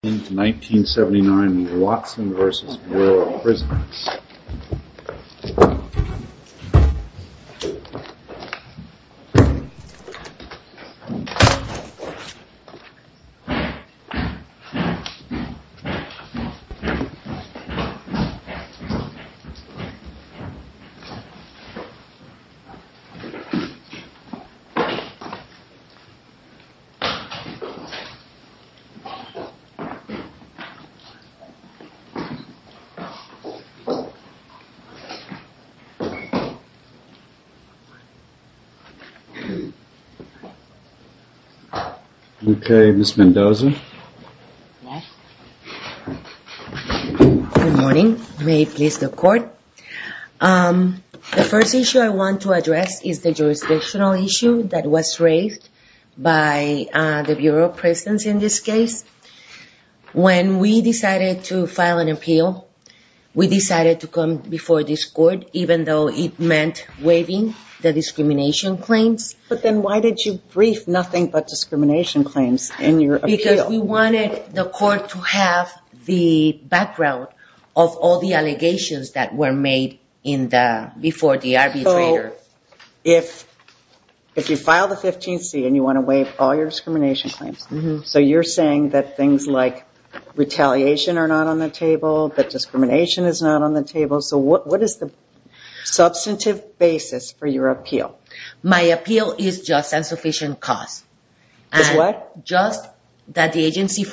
1979 Watson v. Bureau of Prisoners Good morning. May it please the court. The first issue I want to address is the jurisdictional issue that was raised by the Bureau of Prisons in this case. When we decided to file an appeal, we decided to come before this court even though it meant waiving the discrimination claims. But then why did you brief nothing but discrimination claims in your appeal? Because we wanted the court to have the background of all the allegations that were made before the arbitrator. If you file the 15C and you want to waive all your discrimination claims, so you're saying that things like retaliation are not on the table, that discrimination is not on the table, so what is the substantive basis for your appeal? My appeal is just insufficient cost. It's what? when the agency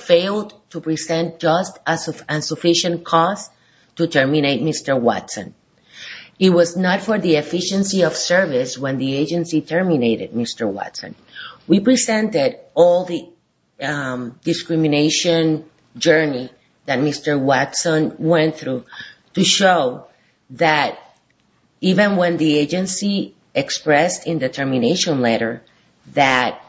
terminated Mr. Watson. We presented all the discrimination journey that Mr. Watson went through to show that even when the agency expressed in the termination letter that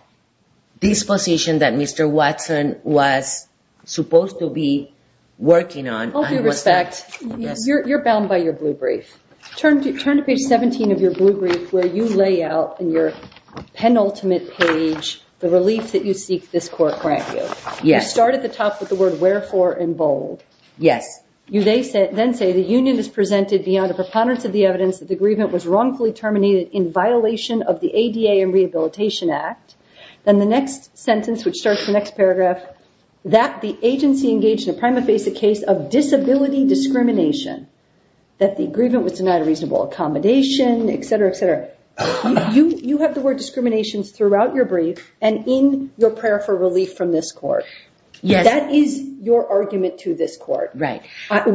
this position that Mr. Watson was supposed to be working on... In fact, you're bound by your blue brief. Turn to page 17 of your blue brief where you lay out in your penultimate page the relief that you seek this court grant you. You start at the top with the word wherefore in bold. Yes. You then say the union has presented beyond a preponderance of the evidence that the grievance was wrongfully terminated in violation of the ADA and Rehabilitation Act. Then the next sentence, which starts the next paragraph, that the agency engaged in a prima facie case of disability discrimination, that the grievant was denied a reasonable accommodation, etc., etc. You have the word discriminations throughout your brief and in your prayer for relief from this court. Yes. That is your argument to this court. Right. That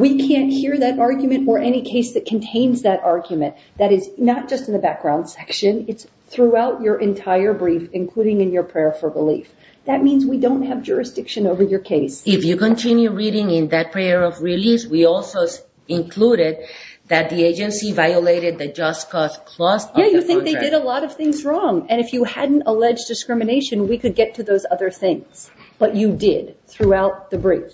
is not just in the background section. It's throughout your entire brief, including in your prayer for relief. That means we don't have jurisdiction over your case. If you continue reading in that prayer of release, we also included that the agency violated the just cause clause of the contract. Yeah, you think they did a lot of things wrong. And if you hadn't alleged discrimination, we could get to those other things. But you did throughout the brief.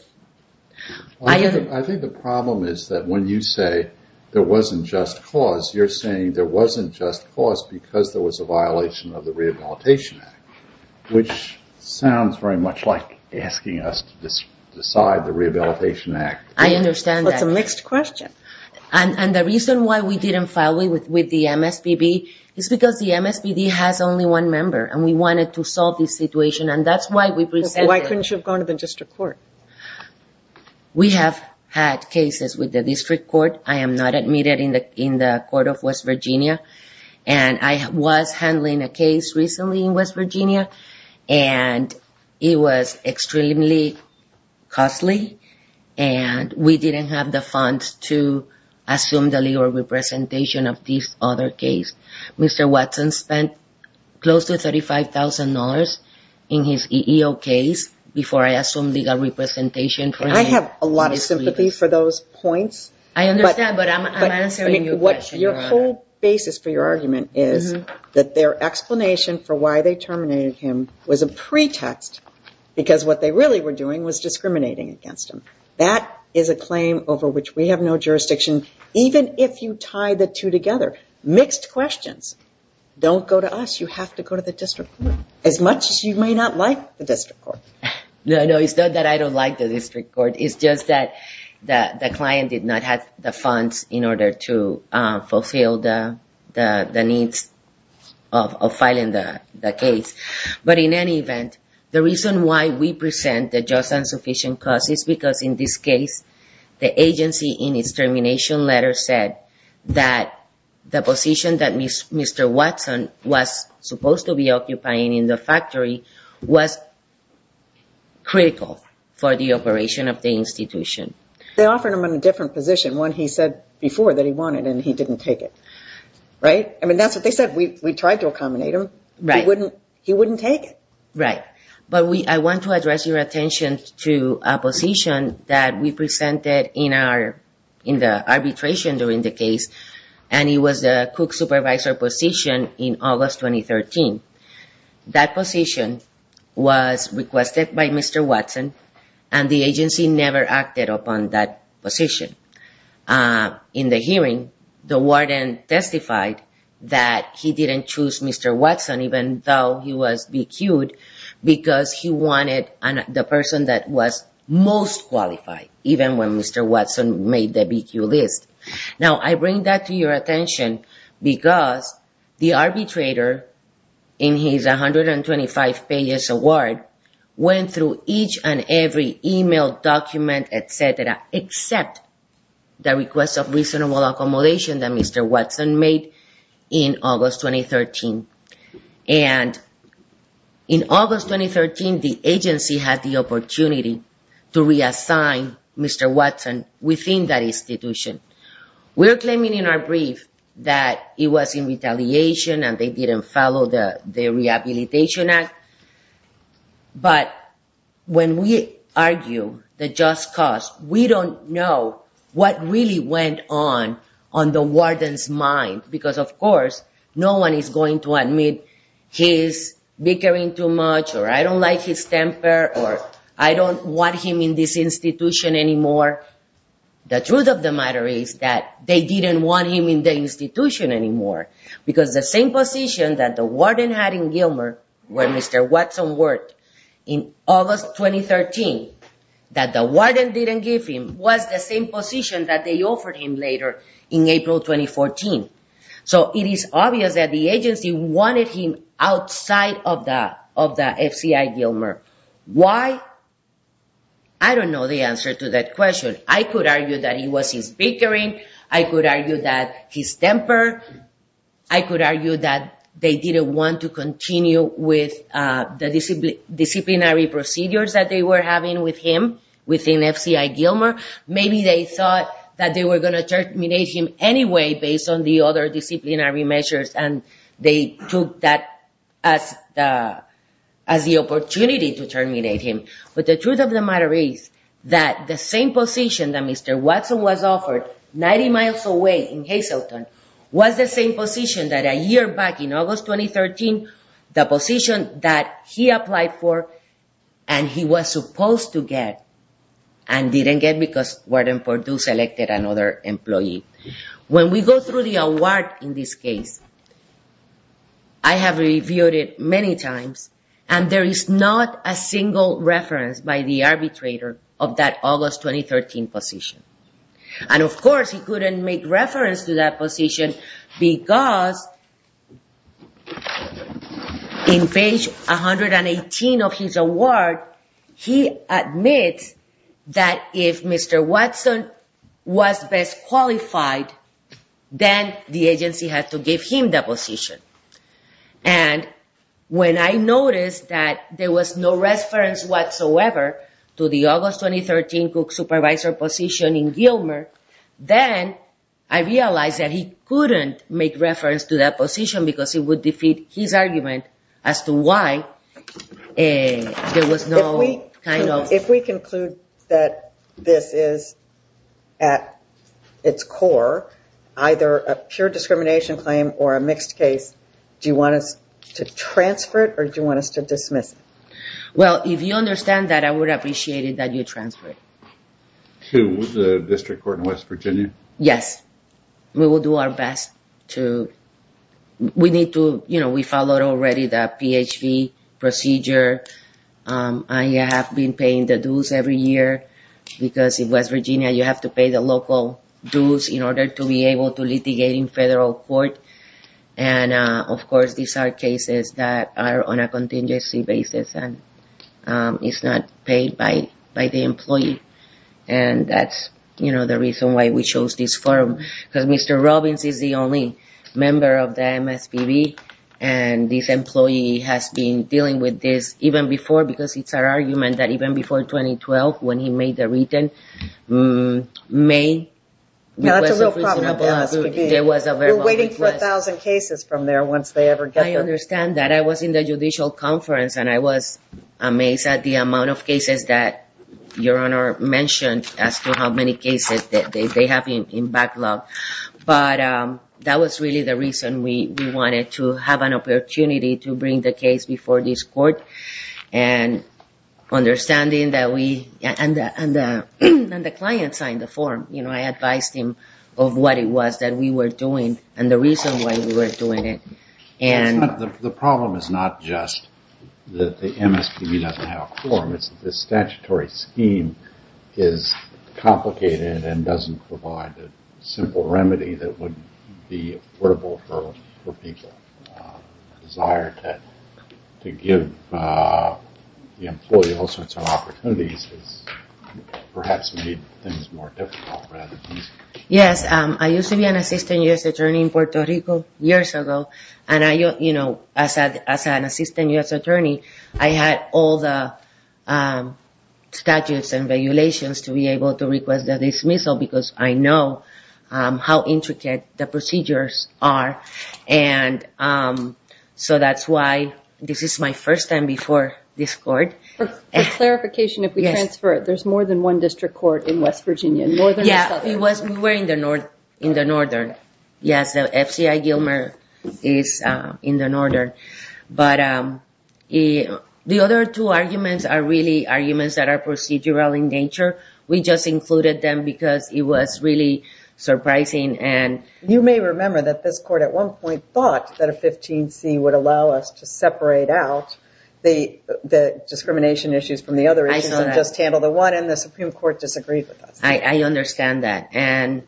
I think the problem is that when you say there wasn't just cause, you're saying there wasn't just cause because there was a violation of the Rehabilitation Act, which sounds very much like asking us to decide the Rehabilitation Act. I understand that. It's a mixed question. And the reason why we didn't file it with the MSPB is because the MSPB has only one member, and we wanted to solve this situation, and that's why we presented it. Couldn't you have gone to the district court? We have had cases with the district court. I am not admitted in the court of West Virginia. And I was handling a case recently in West Virginia, and it was extremely costly, and we didn't have the funds to assume the legal representation of this other case. Mr. Watson spent close to $35,000 in his EEO case before I assumed legal representation. And I have a lot of sympathy for those points. I understand, but I'm answering your question, Your Honor. But your whole basis for your argument is that their explanation for why they terminated him was a pretext because what they really were doing was discriminating against him. That is a claim over which we have no jurisdiction, even if you tie the two together. Mixed questions. Don't go to us. You have to go to the district court, as much as you may not like the district court. No, no, it's not that I don't like the district court. It's just that the client did not have the funds in order to fulfill the needs of filing the case. But in any event, the reason why we present the just and sufficient cause is because in this case, the agency in its termination letter said that the position that Mr. Watson was supposed to be occupying in the factory was critical for the operation of the institution. They offered him a different position, one he said before that he wanted and he didn't take it, right? I mean, that's what they said. We tried to accommodate him. He wouldn't take it. Right. But I want to address your attention to a position that we presented in the arbitration during the case, and it was the cook supervisor position in August 2013. That position was requested by Mr. Watson, and the agency never acted upon that position. In the hearing, the warden testified that he didn't choose Mr. Watson even though he was BQ'd because he wanted the person that was most qualified, even when Mr. Watson made the BQ list. Now, I bring that to your attention because the arbitrator, in his 125-page award, went through each and every e-mail document, et cetera, except the request of reasonable accommodation that Mr. Watson made in August 2013. And in August 2013, the agency had the opportunity to reassign Mr. Watson within that institution. We are claiming in our brief that he was in retaliation and they didn't follow the Rehabilitation Act. But when we argue the just cause, we don't know what really went on on the warden's mind because, of course, no one is going to admit he's bickering too much or I don't like his temper or I don't want him in this institution anymore. The truth of the matter is that they didn't want him in the institution anymore because the same position that the warden had in Gilmer when Mr. Watson worked in August 2013 that the warden didn't give him was the same position that they offered him later in April 2014. So it is obvious that the agency wanted him outside of the FCI Gilmer. Why? I don't know the answer to that question. I could argue that it was his bickering. I could argue that his temper. I could argue that they didn't want to continue with the disciplinary procedures that they were having with him within FCI Gilmer. Maybe they thought that they were going to terminate him anyway based on the other disciplinary measures and they took that as the opportunity to terminate him. But the truth of the matter is that the same position that Mr. Watson was offered 90 miles away in Hazleton was the same position that a year back in August 2013, the position that he applied for and he was supposed to get and didn't get because Warden Purdue selected another employee. When we go through the award in this case, I have reviewed it many times and there is not a single reference by the arbitrator of that August 2013 position. And of course he couldn't make reference to that position because in page 118 of his award, he admits that if Mr. Watson was best qualified then the agency had to give him that position. And when I noticed that there was no reference whatsoever to the August 2013 Cook Supervisor position in Gilmer, then I realized that he couldn't make reference to that position because it would defeat his argument as to why there was no kind of... either a pure discrimination claim or a mixed case. Do you want us to transfer it or do you want us to dismiss it? Well, if you understand that, I would appreciate it that you transfer it. To the district court in West Virginia? Yes. We will do our best to... We need to, you know, we followed already the PHV procedure. I have been paying the dues every year because in West Virginia you have to pay the local dues in order to be able to litigate in federal court. And of course these are cases that are on a contingency basis and it's not paid by the employee. And that's, you know, the reason why we chose this firm because Mr. Robbins is the only member of the MSPB and this employee has been dealing with this even before because it's our argument that even before 2012 when he made the written Now that's a real problem with the MSPB. We're waiting for a thousand cases from there once they ever get there. I understand that. I was in the judicial conference and I was amazed at the amount of cases that Your Honor mentioned as to how many cases that they have in backlog. But that was really the reason we wanted to have an opportunity to bring the case before this court and understanding that we... And the client signed the form. I advised him of what it was that we were doing and the reason why we were doing it. The problem is not just that the MSPB doesn't have a form. It's that this statutory scheme is complicated and doesn't provide a simple remedy that would be affordable for people. The desire to give the employee all sorts of opportunities has perhaps made things more difficult rather than easy. Yes. I used to be an assistant U.S. attorney in Puerto Rico years ago. And as an assistant U.S. attorney, I had all the statutes and regulations to be able to request a dismissal because I know how intricate the procedures are. And so that's why this is my first time before this court. For clarification, if we transfer it, there's more than one district court in West Virginia. Yeah, we were in the northern. Yes, the FCI Gilmer is in the northern. But the other two arguments are really arguments that are procedural in nature. We just included them because it was really surprising. You may remember that this court at one point thought that a 15C would allow us to separate out the discrimination issues from the other issues and just handle the one. And the Supreme Court disagreed with us. I understand that. And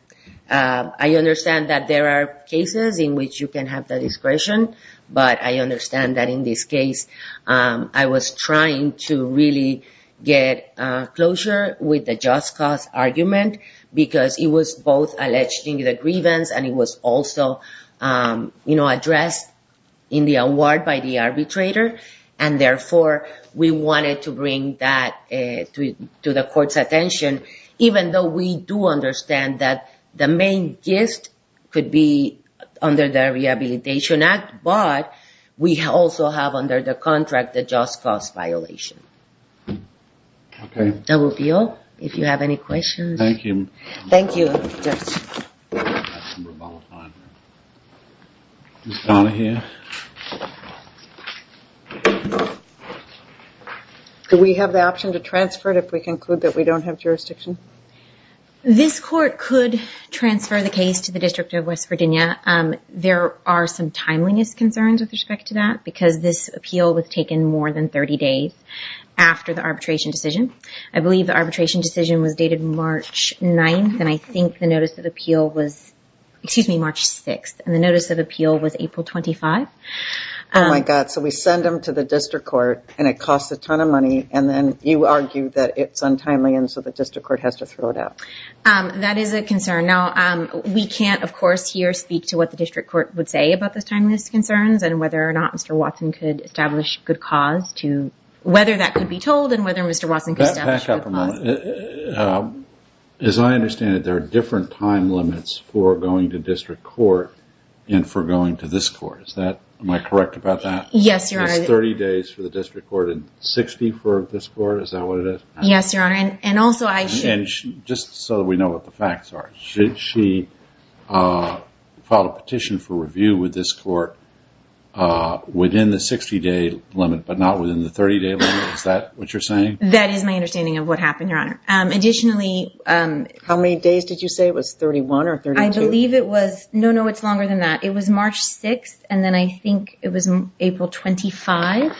I understand that there are cases in which you can have the discretion. But I understand that in this case, I was trying to really get closure with the just cause argument because it was both alleging the grievance and it was also addressed in the award by the arbitrator. And therefore, we wanted to bring that to the court's attention, even though we do understand that the main gift could be under the Rehabilitation Act. But we also have under the contract the just cause violation. Okay. That will be all. If you have any questions. Thank you. Thank you. Do we have the option to transfer it if we conclude that we don't have jurisdiction? This court could transfer the case to the District of West Virginia. There are some timeliness concerns with respect to that because this appeal was taken more than 30 days after the arbitration decision. I believe the arbitration decision was dated March 9th. And I think the notice of appeal was March 6th. And the notice of appeal was April 25th. Oh, my God. So we send them to the district court and it costs a ton of money. And then you argue that it's untimely and so the district court has to throw it out. That is a concern. Now, we can't, of course, here speak to what the district court would say about the timeliness concerns and whether or not Mr. Watson could establish good cause to whether that could be told and whether Mr. Watson could establish good cause. Back up a moment. As I understand it, there are different time limits for going to district court and for going to this court. Am I correct about that? Yes, Your Honor. It's 30 days for the district court and 60 for this court. Is that what it is? Yes, Your Honor. And also I should. Just so we know what the facts are. She filed a petition for review with this court within the 60-day limit but not within the 30-day limit. Is that what you're saying? That is my understanding of what happened, Your Honor. Additionally. How many days did you say it was? 31 or 32? I believe it was. No, no, it's longer than that. It was March 6th and then I think it was April 25th.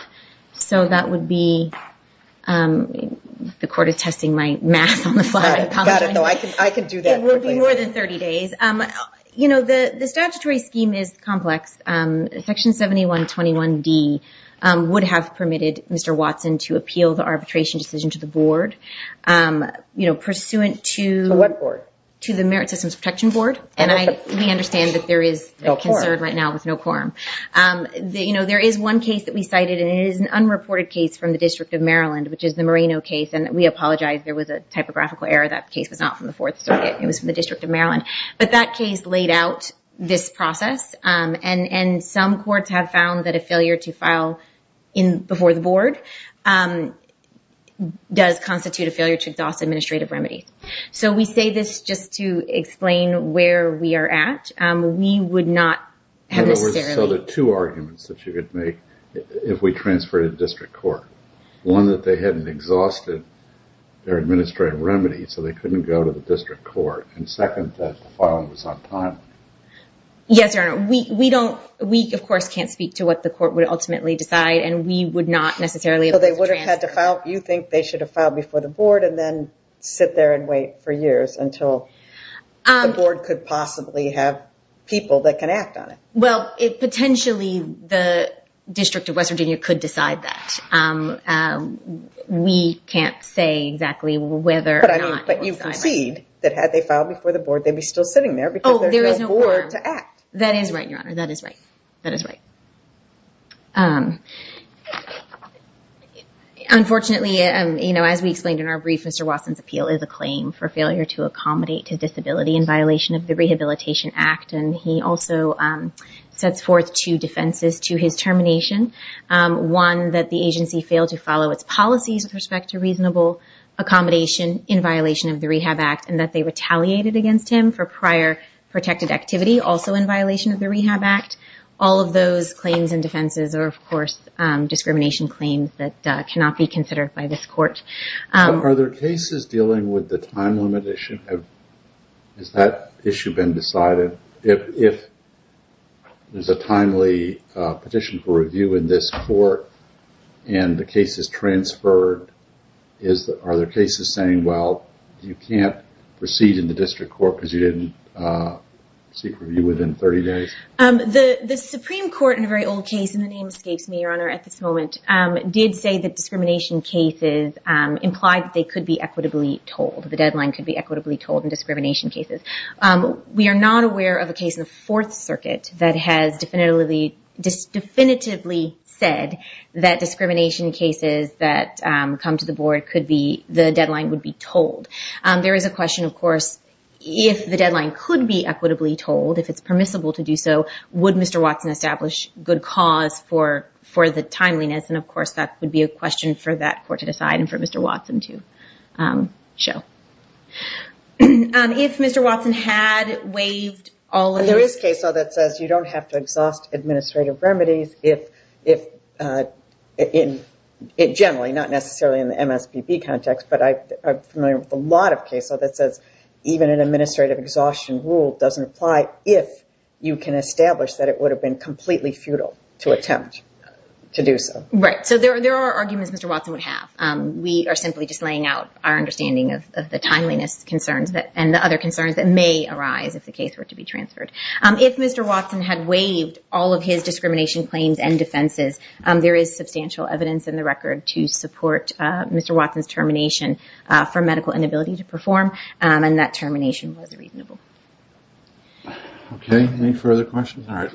So that would be the court attesting my math on the fly. Got it. I can do that. It would be more than 30 days. You know, the statutory scheme is complex. Section 7121D would have permitted Mr. Watson to appeal the arbitration decision to the board, you know, pursuant to… To what board? To the Merit Systems Protection Board. And we understand that there is a concern right now with no quorum. You know, there is one case that we cited and it is an unreported case from the District of Maryland, which is the Moreno case. And we apologize. There was a typographical error. That case was not from the Fourth Circuit. It was from the District of Maryland. But that case laid out this process. And some courts have found that a failure to file before the board does constitute a failure to exhaust administrative remedy. So we say this just to explain where we are at. We would not have necessarily… So there are two arguments that you could make if we transferred it to district court. One, that they hadn't exhausted their administrative remedy, so they couldn't go to the district court. And second, that the filing was on time. Yes, Your Honor. We don't… We, of course, can't speak to what the court would ultimately decide and we would not necessarily… So they would have had to file… You think they should have filed before the board and then sit there and wait for years until the board could possibly have people that can act on it. Well, it potentially… The District of West Virginia could decide that. We can't say exactly whether or not… But you concede that had they filed before the board, they'd be still sitting there because there's no board to act. That is right, Your Honor. That is right. That is right. Unfortunately, as we explained in our brief, Mr. Wasson's appeal is a claim for failure to accommodate to disability in violation of the Rehabilitation Act. And he also sets forth two defenses to his termination. One, that the agency failed to follow its policies with respect to reasonable accommodation in violation of the Rehab Act and that they retaliated against him for prior protected activity also in violation of the Rehab Act. All of those claims and defenses are, of course, discrimination claims that cannot be considered by this court. Are there cases dealing with the time limit issue? Has that issue been decided? If there's a timely petition for review in this court and the case is transferred, are there cases saying, well, you can't proceed in the district court because you didn't seek review within 30 days? The Supreme Court in a very old case, and the name escapes me, Your Honor, at this moment, did say that discrimination cases implied that they could be equitably told. The deadline could be equitably told in discrimination cases. We are not aware of a case in the Fourth Circuit that has definitively said that discrimination cases that come to the board could be, the deadline would be told. There is a question, of course, if the deadline could be equitably told, if it's permissible to do so, would Mr. Watson establish good cause for the timeliness? And, of course, that would be a question for that court to decide and for Mr. Watson to show. If Mr. Watson had waived all of the... There is case law that says you don't have to exhaust administrative remedies if, generally, not necessarily in the MSPB context, but I'm familiar with a lot of case law that says even an administrative exhaustion rule doesn't apply if you can establish that it would have been completely futile to attempt to do so. Right. So there are arguments Mr. Watson would have. We are simply just laying out our understanding of the timeliness concerns and the other concerns that may arise if the case were to be transferred. If Mr. Watson had waived all of his discrimination claims and defenses, there is substantial evidence in the record to support Mr. Watson's termination for medical inability to perform, and that termination was reasonable. Okay. Any further questions? All right.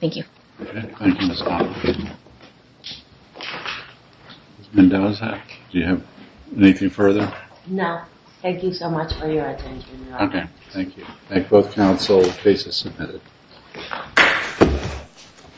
Thank you. Okay. Thank you, Ms. Potter. Ms. Mendoza, do you have anything further? No. Thank you so much for your attention. Okay. Thank you. Thank both counsel. The case is submitted.